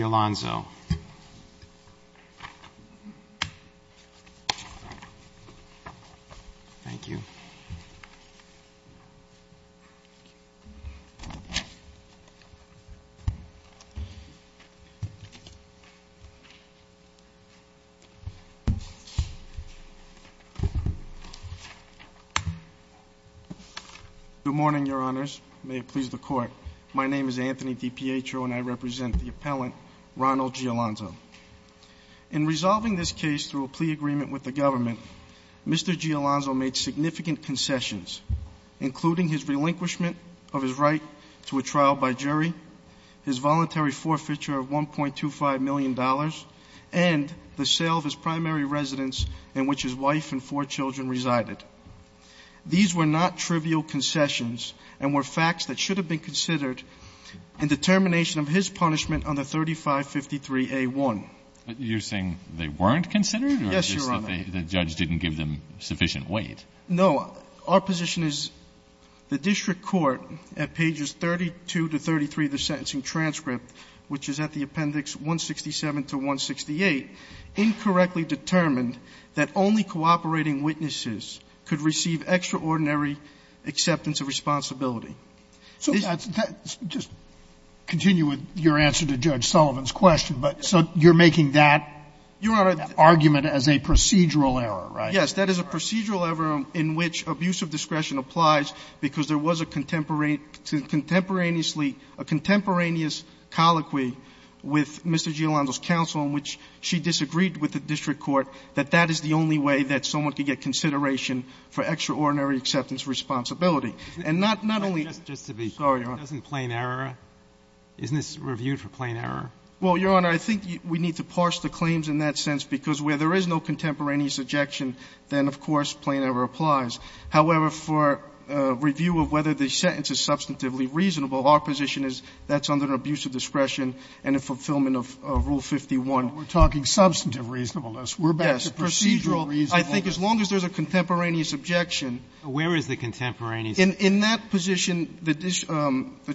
Alonzo. Good morning, Your Honor. My name is Anthony DiPietro, and I represent the appellant, Ronald Gi Alonzo. In resolving this case through a plea agreement with the government, Mr. Gi Alonzo made significant concessions, including his relinquishment of his right to a trial by jury, his voluntary forfeiture of $1.25 million, and the sale of his primary residence in which his wife and four children resided. These were not trivial concessions and were facts that should have been considered in determination of his punishment on the 3553A1. But you're saying they weren't considered? Yes, Your Honor. Or just that the judge didn't give them sufficient weight? No. Our position is the district court, at pages 32 to 33 of the sentencing transcript, which is at the appendix 167 to 168, incorrectly determined that only cooperating witnesses could receive extraordinary acceptance of responsibility. So that's the question. Just continue with your answer to Judge Sullivan's question. But so you're making that argument as a procedural error, right? Yes. That is a procedural error in which abuse of discretion applies because there was a contemporaneous colloquy with Mr. Gi Alonzo's counsel in which she disagreed with the district court that that is the only way that someone could get consideration for extraordinary acceptance of responsibility. And not only — Just to be — Sorry, Your Honor. Doesn't plain error — isn't this reviewed for plain error? Well, Your Honor, I think we need to parse the claims in that sense, because where there is no contemporaneous objection, then, of course, plain error applies. However, for review of whether the sentence is substantively reasonable, our position is that's under an abuse of discretion and a fulfillment of Rule 51. We're talking substantive reasonableness. We're back to procedural reasonableness. I think as long as there's a contemporaneous objection — Where is the contemporaneous — In that position, the —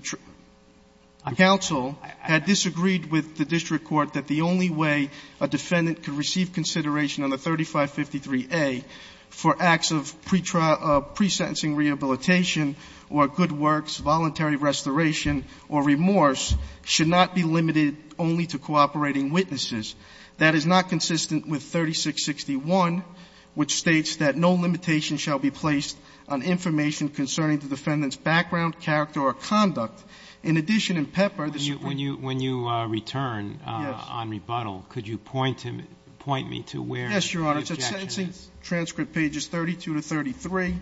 the counsel had disagreed with the district court that the only way a defendant could receive consideration under 3553A for acts of pre-sentencing rehabilitation or good works, voluntary restoration or remorse should not be limited only to cooperating witnesses. That is not consistent with 3661, which states that no limitation shall be placed on information concerning the defendant's background, character or conduct. In addition, in Pepper, the Supreme — When you — when you return on rebuttal, could you point him — point me to where the objection is? Yes, Your Honor. It's at Sentencing Transcript pages 32 to 33,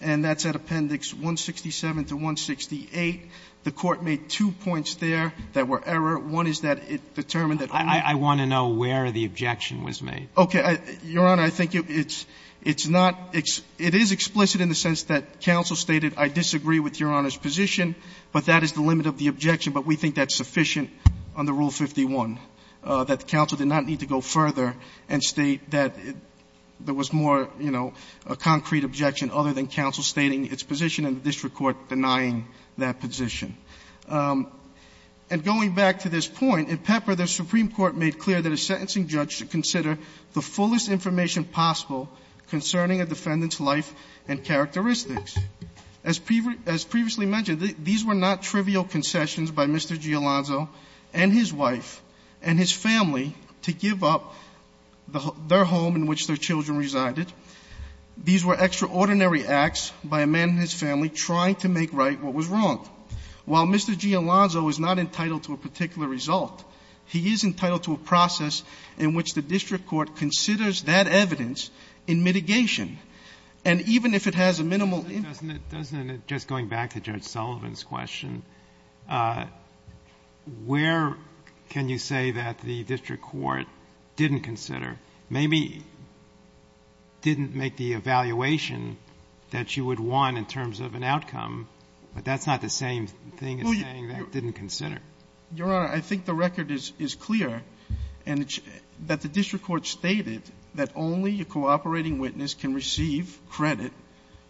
and that's at Appendix 167 to 168. The Court made two points there that were error. One is that it determined that only — I want to know where the objection was made. Okay. Your Honor, I think it's — it's not — it is explicit in the sense that counsel stated, I disagree with Your Honor's position, but that is the limit of the objection, but we think that's sufficient under Rule 51, that the counsel did not need to go further and state that there was more, you know, a concrete objection other than counsel stating its position and the district court denying that position. And going back to this point, in Pepper, the Supreme Court made clear that a sentencing judge should consider the fullest information possible concerning a defendant's life and characteristics. As previously mentioned, these were not trivial concessions by Mr. Giolanzo and his wife and his family to give up their home in which their children resided. These were extraordinary acts by a man and his family trying to make right what was wrong. While Mr. Giolanzo is not entitled to a particular result, he is entitled to a process in which the district court considers that evidence in mitigation. And even if it has a minimal impact — Doesn't it — doesn't it, just going back to Judge Sullivan's question, where can you say that the district court didn't consider, maybe didn't make the evaluation that you would want in terms of an outcome, but that's not the same thing as saying they didn't consider? Your Honor, I think the record is clear, and that the district court stated that only a cooperating witness can receive credit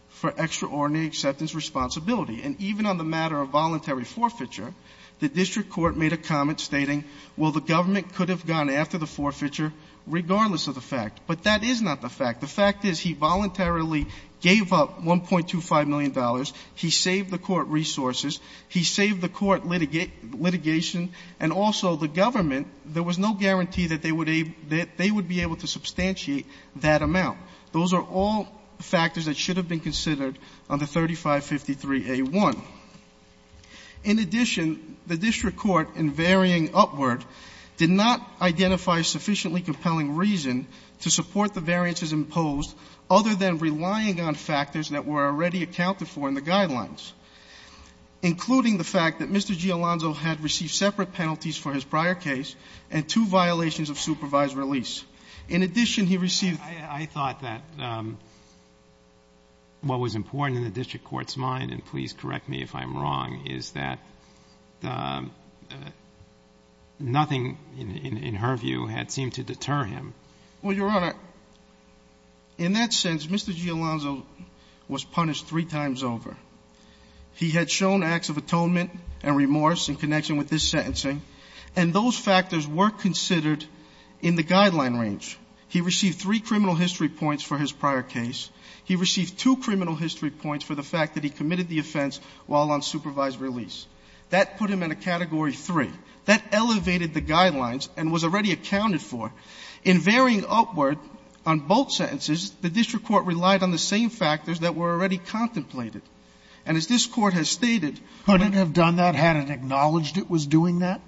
for extraordinary acceptance responsibility. And even on the matter of voluntary forfeiture, the district court made a comment stating, well, the government could have gone after the forfeiture regardless of the fact. But that is not the fact. The fact is he voluntarily gave up $1.25 million, he saved the court resources, he saved the court litigation, and also the government, there was no guarantee that they would be able to substantiate that amount. Those are all factors that should have been considered on the 3553A1. In addition, the district court, in varying upward, did not identify a sufficiently compelling reason to support the variances imposed, other than relying on factors that were already accounted for in the guidelines, including the fact that Mr. Giolanzo had received separate penalties for his prior case and two violations of supervised release. In addition, he received- I thought that what was important in the district court's mind, and please correct me if I'm wrong, is that nothing, in her view, had seemed to deter him. Well, Your Honor, in that sense, Mr. Giolanzo was punished three times over. He had shown acts of atonement and remorse in connection with this sentencing, and those factors were considered in the guideline range. He received three criminal history points for his prior case. He received two criminal history points for the fact that he committed the offense while on supervised release. That put him in a Category 3. That elevated the guidelines and was already accounted for. In varying upward on both sentences, the district court relied on the same factors that were already contemplated. And as this Court has stated- Could it have done that had it acknowledged it was doing that?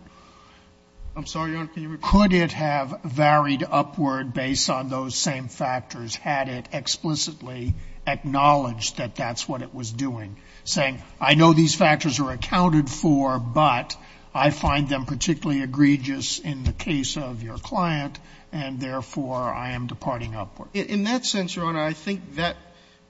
I'm sorry, Your Honor, can you repeat that? Could it have varied upward based on those same factors had it explicitly acknowledged that that's what it was doing, saying, I know these factors are accounted for, but I find them particularly egregious in the case of your client, and therefore I am departing upward? In that sense, Your Honor, I think that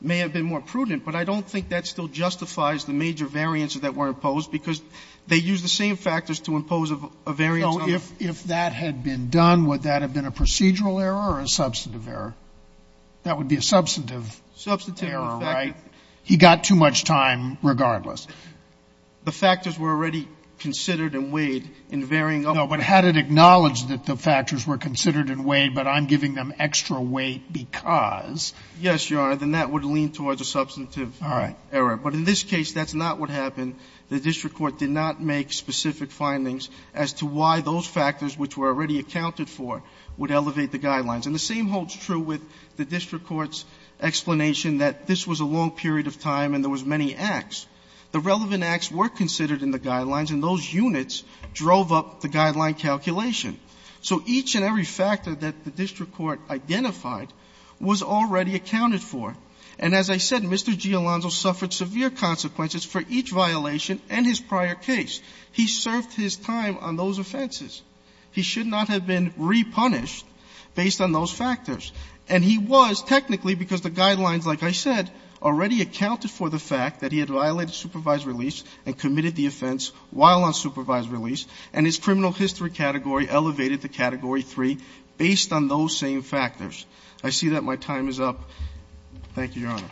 may have been more prudent, but I don't think that still justifies the major variants that were imposed, because they used the same factors to impose a variance on the- No. If that had been done, would that have been a procedural error or a substantive error? That would be a substantive error, right? He got too much time regardless. The factors were already considered and weighed in varying upward. No, but had it acknowledged that the factors were considered and weighed, but I'm giving them extra weight because- Yes, Your Honor, then that would lean towards a substantive error. But in this case, that's not what happened. The district court did not make specific findings as to why those factors, which were already accounted for, would elevate the guidelines. And the same holds true with the district court's explanation that this was a long period of time and there was many acts. The relevant acts were considered in the guidelines, and those units drove up the guideline calculation. So each and every factor that the district court identified was already accounted for. And as I said, Mr. Giolanzo suffered severe consequences for each violation and his prior case. He served his time on those offenses. He should not have been repunished based on those factors. And he was technically, because the guidelines, like I said, already accounted for the fact that he had violated supervised release and committed the offense while on supervised release, and his criminal history category elevated to Category III based on those same factors. I see that my time is up. Thank you, Your Honor.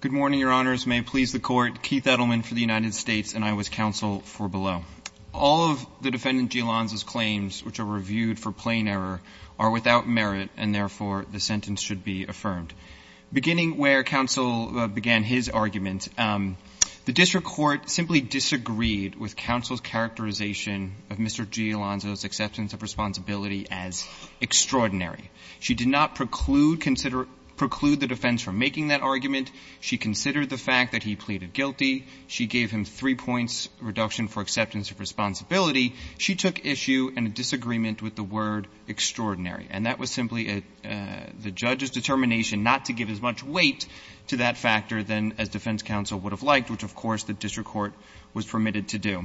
Good morning, Your Honors. May it please the Court. Keith Edelman for the United States, and I was counsel for below. All of the Defendant Giolanzo's claims, which are reviewed for plain error, are without merit, and therefore the sentence should be affirmed. Beginning where counsel began his argument, the district court simply disagreed with counsel's characterization of Mr. Giolanzo's acceptance of responsibility as extraordinary. She did not preclude the defense from making that argument. She considered the fact that he pleaded guilty. She gave him three points reduction for acceptance of responsibility. She took issue in a disagreement with the word extraordinary. And that was simply the judge's determination not to give as much weight to that factor than as defense counsel would have liked, which, of course, the district court was permitted to do.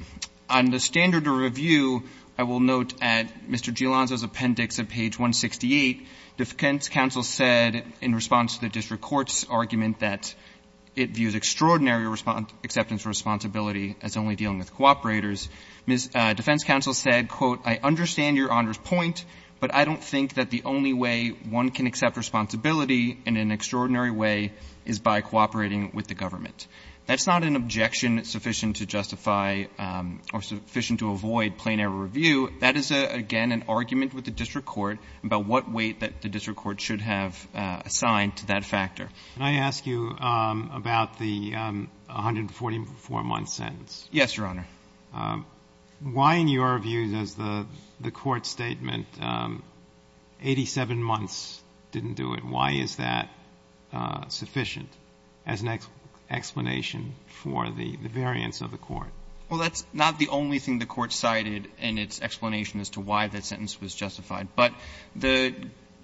On the standard of review, I will note at Mr. Giolanzo's appendix at page 168, defense counsel said in response to the district court's argument that it views extraordinary acceptance of responsibility as only dealing with cooperators. Defense counsel said, quote, I understand Your Honor's point, but I don't think that the only way one can accept responsibility in an extraordinary way is by cooperating with the government. That's not an objection sufficient to justify or sufficient to avoid plain error review. That is, again, an argument with the district court about what weight that the district court should have assigned to that factor. Breyer. Can I ask you about the 144-month sentence? Yes, Your Honor. Why, in your view, does the court's statement, 87 months didn't do it, why is that sufficient as an explanation for the variance of the court? Well, that's not the only thing the court cited in its explanation as to why that sentence was justified. But the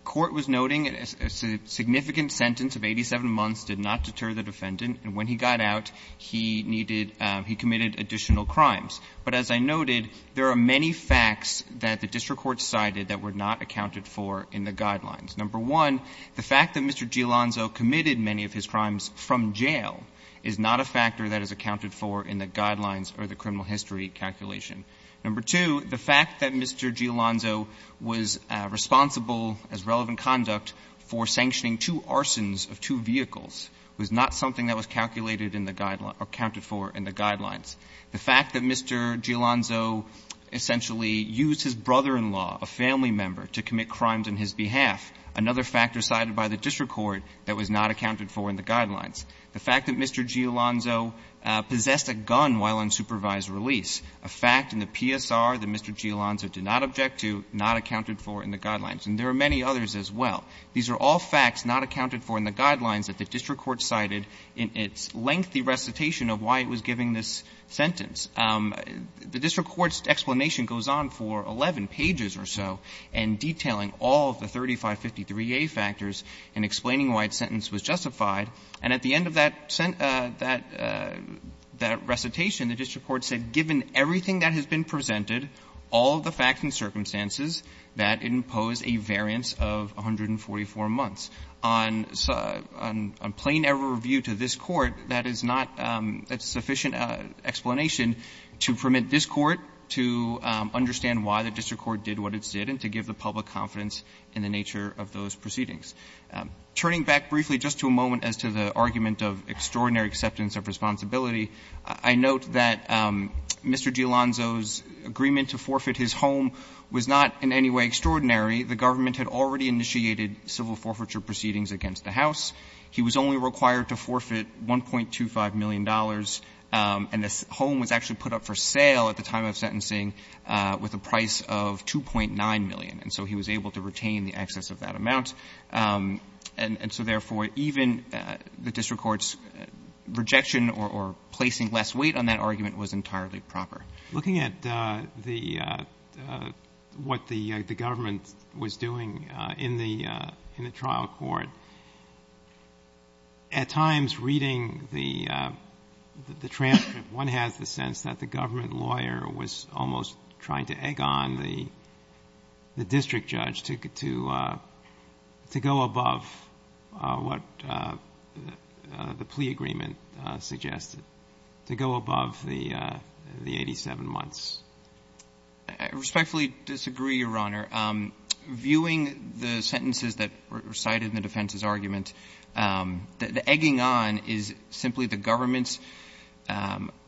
court was noting a significant sentence of 87 months did not deter the defendant. And when he got out, he needed – he committed additional crimes. But as I noted, there are many facts that the district court cited that were not accounted for in the guidelines. Number one, the fact that Mr. Giolanzo committed many of his crimes from jail is not a factor that is accounted for in the guidelines or the criminal history calculation. Number two, the fact that Mr. Giolanzo was responsible as relevant conduct for sanctioning The fact that Mr. Giolanzo essentially used his brother-in-law, a family member, to commit crimes on his behalf, another factor cited by the district court that was not accounted for in the guidelines. The fact that Mr. Giolanzo possessed a gun while on supervised release, a fact in the PSR that Mr. Giolanzo did not object to, not accounted for in the guidelines. And there are many others as well. These are all facts not accounted for in the guidelines that the district court cited in its lengthy recitation of why it was giving this sentence. The district court's explanation goes on for 11 pages or so and detailing all of the 3553a factors and explaining why its sentence was justified. And at the end of that sent – that recitation, the district court said, given everything that has been presented, all of the facts and circumstances, that it imposed a variance of 144 months. On plain error of view to this Court, that is not a sufficient explanation to permit this Court to understand why the district court did what it did and to give the public confidence in the nature of those proceedings. Turning back briefly just to a moment as to the argument of extraordinary acceptance of responsibility, I note that Mr. Giolanzo's agreement to forfeit his home was not in any way extraordinary. The government had already initiated civil forfeiture proceedings against the House. He was only required to forfeit $1.25 million, and the home was actually put up for sale at the time of sentencing with a price of $2.9 million. And so he was able to retain the excess of that amount. And so, therefore, even the district court's rejection or placing less weight on that argument was entirely proper. Looking at the, what the government was doing in the, in the trial court, at times reading the, the transcript, one has the sense that the government lawyer was almost trying to egg on the, the district judge to, to, to go above what the plea agreement suggested, to go above the, the 87 months. I respectfully disagree, Your Honor. Viewing the sentences that were cited in the defense's argument, the egging on is simply the government's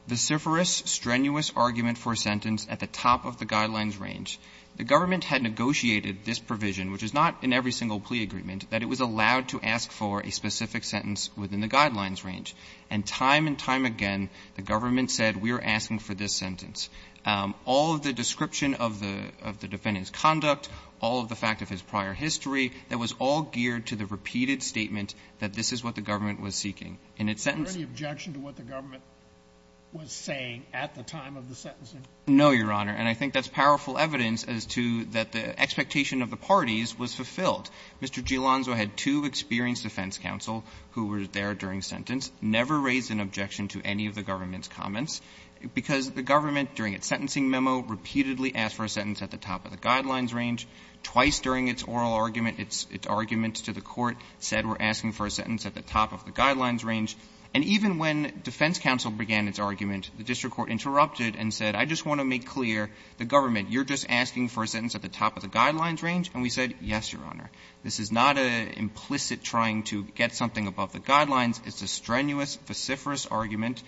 vociferous, strenuous argument for a sentence at the top of the Guidelines range. The government had negotiated this provision, which is not in every single plea agreement, that it was allowed to ask for a specific sentence within the Guidelines range. And time and time again, the government said, we're asking for this sentence. All of the description of the, of the defendant's conduct, all of the fact of his prior history, that was all geared to the repeated statement that this is what the government was seeking. In its sentence the objection to what the government was saying at the time of the sentencing. No, Your Honor. And I think that's powerful evidence as to that the expectation of the parties was fulfilled. Mr. Gilonzo had two experienced defense counsel who were there during sentence. Never raised an objection to any of the government's comments, because the government during its sentencing memo repeatedly asked for a sentence at the top of the Guidelines range. Twice during its oral argument, its arguments to the court said we're asking for a sentence at the top of the Guidelines range. And even when defense counsel began its argument, the district court interrupted and said, I just want to make clear, the government, you're just asking for a sentence at the top of the Guidelines range. And we said, yes, Your Honor. This is not an implicit trying to get something above the Guidelines. It's a strenuous, vociferous argument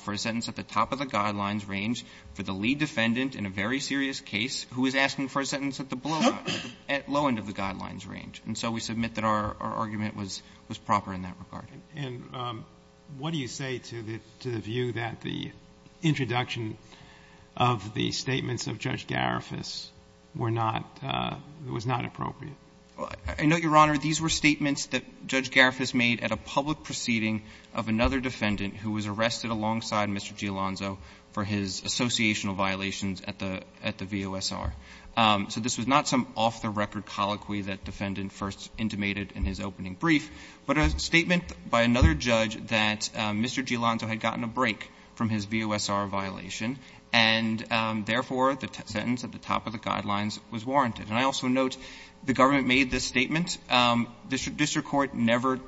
for a sentence at the top of the Guidelines range for the lead defendant in a very serious case who is asking for a sentence at the below end, at the low end of the Guidelines range. And so we submit that our argument was proper in that regard. And what do you say to the view that the introduction of the statements of Judge Garifus were not, was not appropriate? I note, Your Honor, these were statements that Judge Garifus made at a public proceeding of another defendant who was arrested alongside Mr. Gialonzo for his associational violations at the VOSR. So this was not some off-the-record colloquy that defendant first intimated in his opening brief, but a statement by another judge that Mr. Gialonzo had gotten a break from his VOSR violation, and therefore, the sentence at the top of the Guidelines was warranted. And I also note the government made this statement. The district court never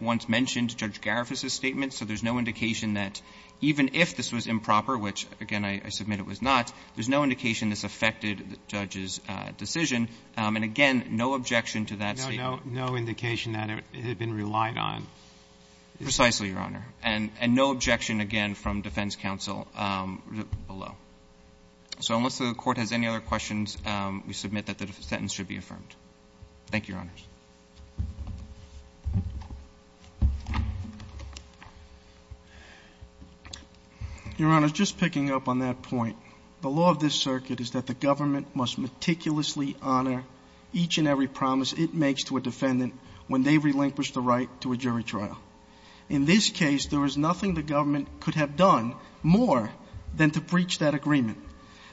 once mentioned Judge Garifus's statement, so there's no indication that even if this was improper, which, again, I submit it was not, there's no indication this affected the judge's decision. And again, no objection to that statement. No, no indication that it had been relied on. Precisely, Your Honor. And no objection, again, from defense counsel below. So unless the Court has any other questions, we submit that the sentence should be affirmed. Thank you, Your Honors. Your Honors, just picking up on that point, the law of this circuit is that the government must meticulously honor each and every promise it makes to a defendant when they relinquish the right to a jury trial. In this case, there was nothing the government could have done more than to breach that agreement.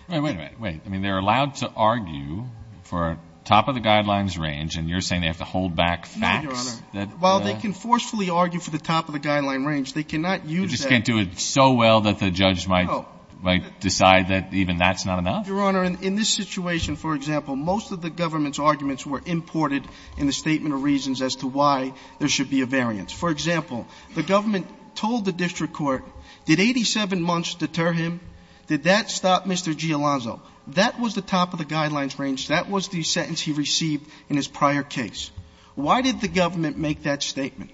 Wait a minute. Wait. I mean, they're allowed to argue for top of the Guidelines range, and you're saying they have to hold back facts? No, Your Honor. While they can forcefully argue for the top of the Guidelines range, they cannot use that. They just can't do it so well that the judge might decide that even that's not enough? Your Honor, in this situation, for example, most of the government's arguments were imported in the statement of reasons as to why there should be a variance. For example, the government told the district court, did 87 months deter him? Did that stop Mr. G. Alonzo? That was the top of the Guidelines range. That was the sentence he received in his prior case. Why did the government make that statement?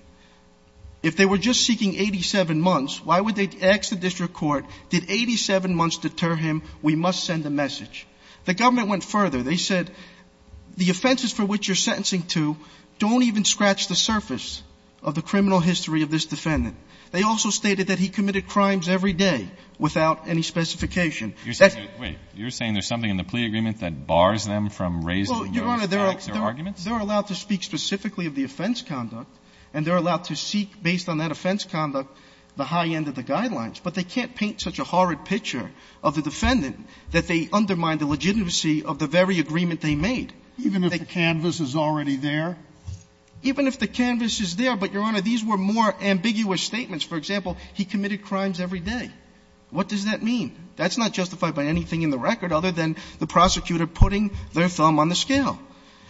If they were just seeking 87 months, why would they ask the district court, did 87 months deter him? We must send a message. The government went further. They said, the offenses for which you're sentencing to don't even scratch the surface of the criminal history of this defendant. They also stated that he committed crimes every day without any specification. You're saying there's something in the plea agreement that bars them from raising these facts or arguments? Your Honor, they're allowed to speak specifically of the offense conduct, and they're allowed to seek, based on that offense conduct, the high end of the Guidelines. But they can't paint such a horrid picture of the defendant that they undermine the legitimacy of the very agreement they made. Even if the canvas is already there? Even if the canvas is there. But, Your Honor, these were more ambiguous statements. For example, he committed crimes every day. What does that mean? That's not justified by anything in the record other than the prosecutor putting their thumb on the scale.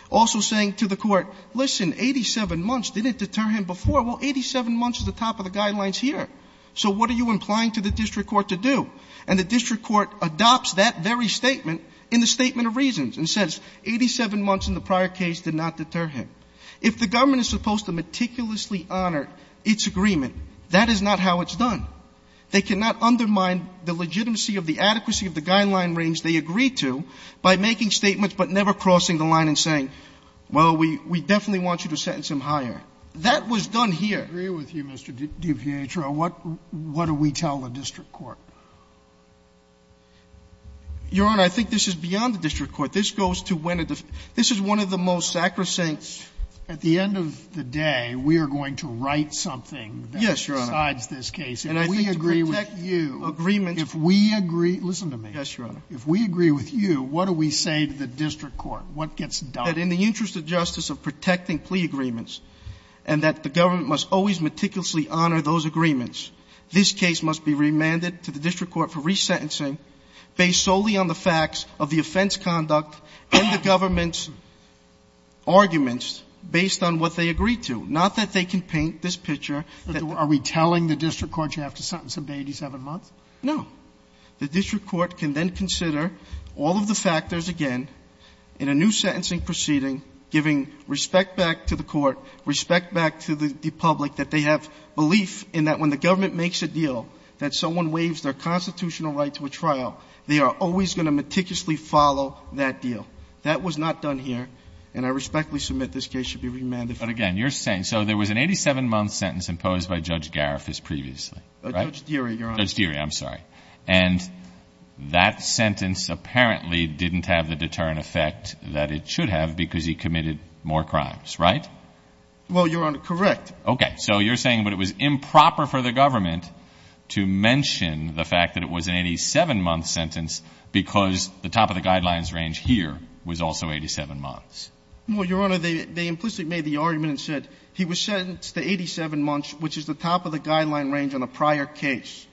Also saying to the court, listen, 87 months didn't deter him before. Well, 87 months is the top of the Guidelines here. So what are you implying to the district court to do? And the district court adopts that very statement in the Statement of Reasons and says, 87 months in the prior case did not deter him. If the government is supposed to meticulously honor its agreement, that is not how it's done. They cannot undermine the legitimacy of the adequacy of the Guideline range they agreed to by making statements but never crossing the line and saying, well, we definitely want you to sentence him higher. That was done here. I agree with you, Mr. DiPietro. What do we tell the district court? Your Honor, I think this is beyond the district court. This is one of the most sacrosanct. At the end of the day, we are going to write something that decides this case. Yes, Your Honor. And I think to protect you, if we agree with you, what do we say to the district court? What gets done? That in the interest of justice of protecting plea agreements and that the government must always meticulously honor those agreements, this case must be remanded to the district court and the government's arguments based on what they agreed to. Not that they can paint this picture. Are we telling the district court you have to sentence him to 87 months? No. The district court can then consider all of the factors, again, in a new sentencing proceeding, giving respect back to the court, respect back to the public, that they have belief in that when the government makes a deal, that someone waives their deal. That was not done here, and I respectfully submit this case should be remanded. But again, you're saying, so there was an 87-month sentence imposed by Judge Garifas previously, right? Judge Deary, Your Honor. Judge Deary, I'm sorry. And that sentence apparently didn't have the deterrent effect that it should have because he committed more crimes, right? Well, Your Honor, correct. Okay. So you're saying that it was improper for the government to mention the fact that it was an 87-month sentence because the top of the guidelines range here was also 87 months? Well, Your Honor, they implicitly made the argument and said he was sentenced to 87 months, which is the top of the guideline range on a prior case.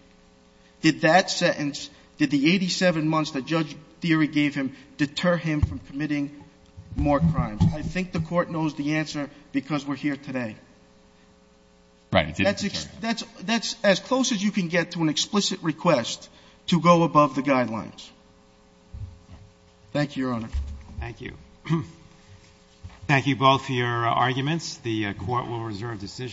Did that sentence, did the 87 months that Judge Deary gave him deter him from committing more crimes? I think the court knows the answer because we're here today. Right. That's as close as you can get to an explicit request to go above the guidelines. Thank you, Your Honor. Thank you. Thank you both for your arguments. The Court will reserve decision.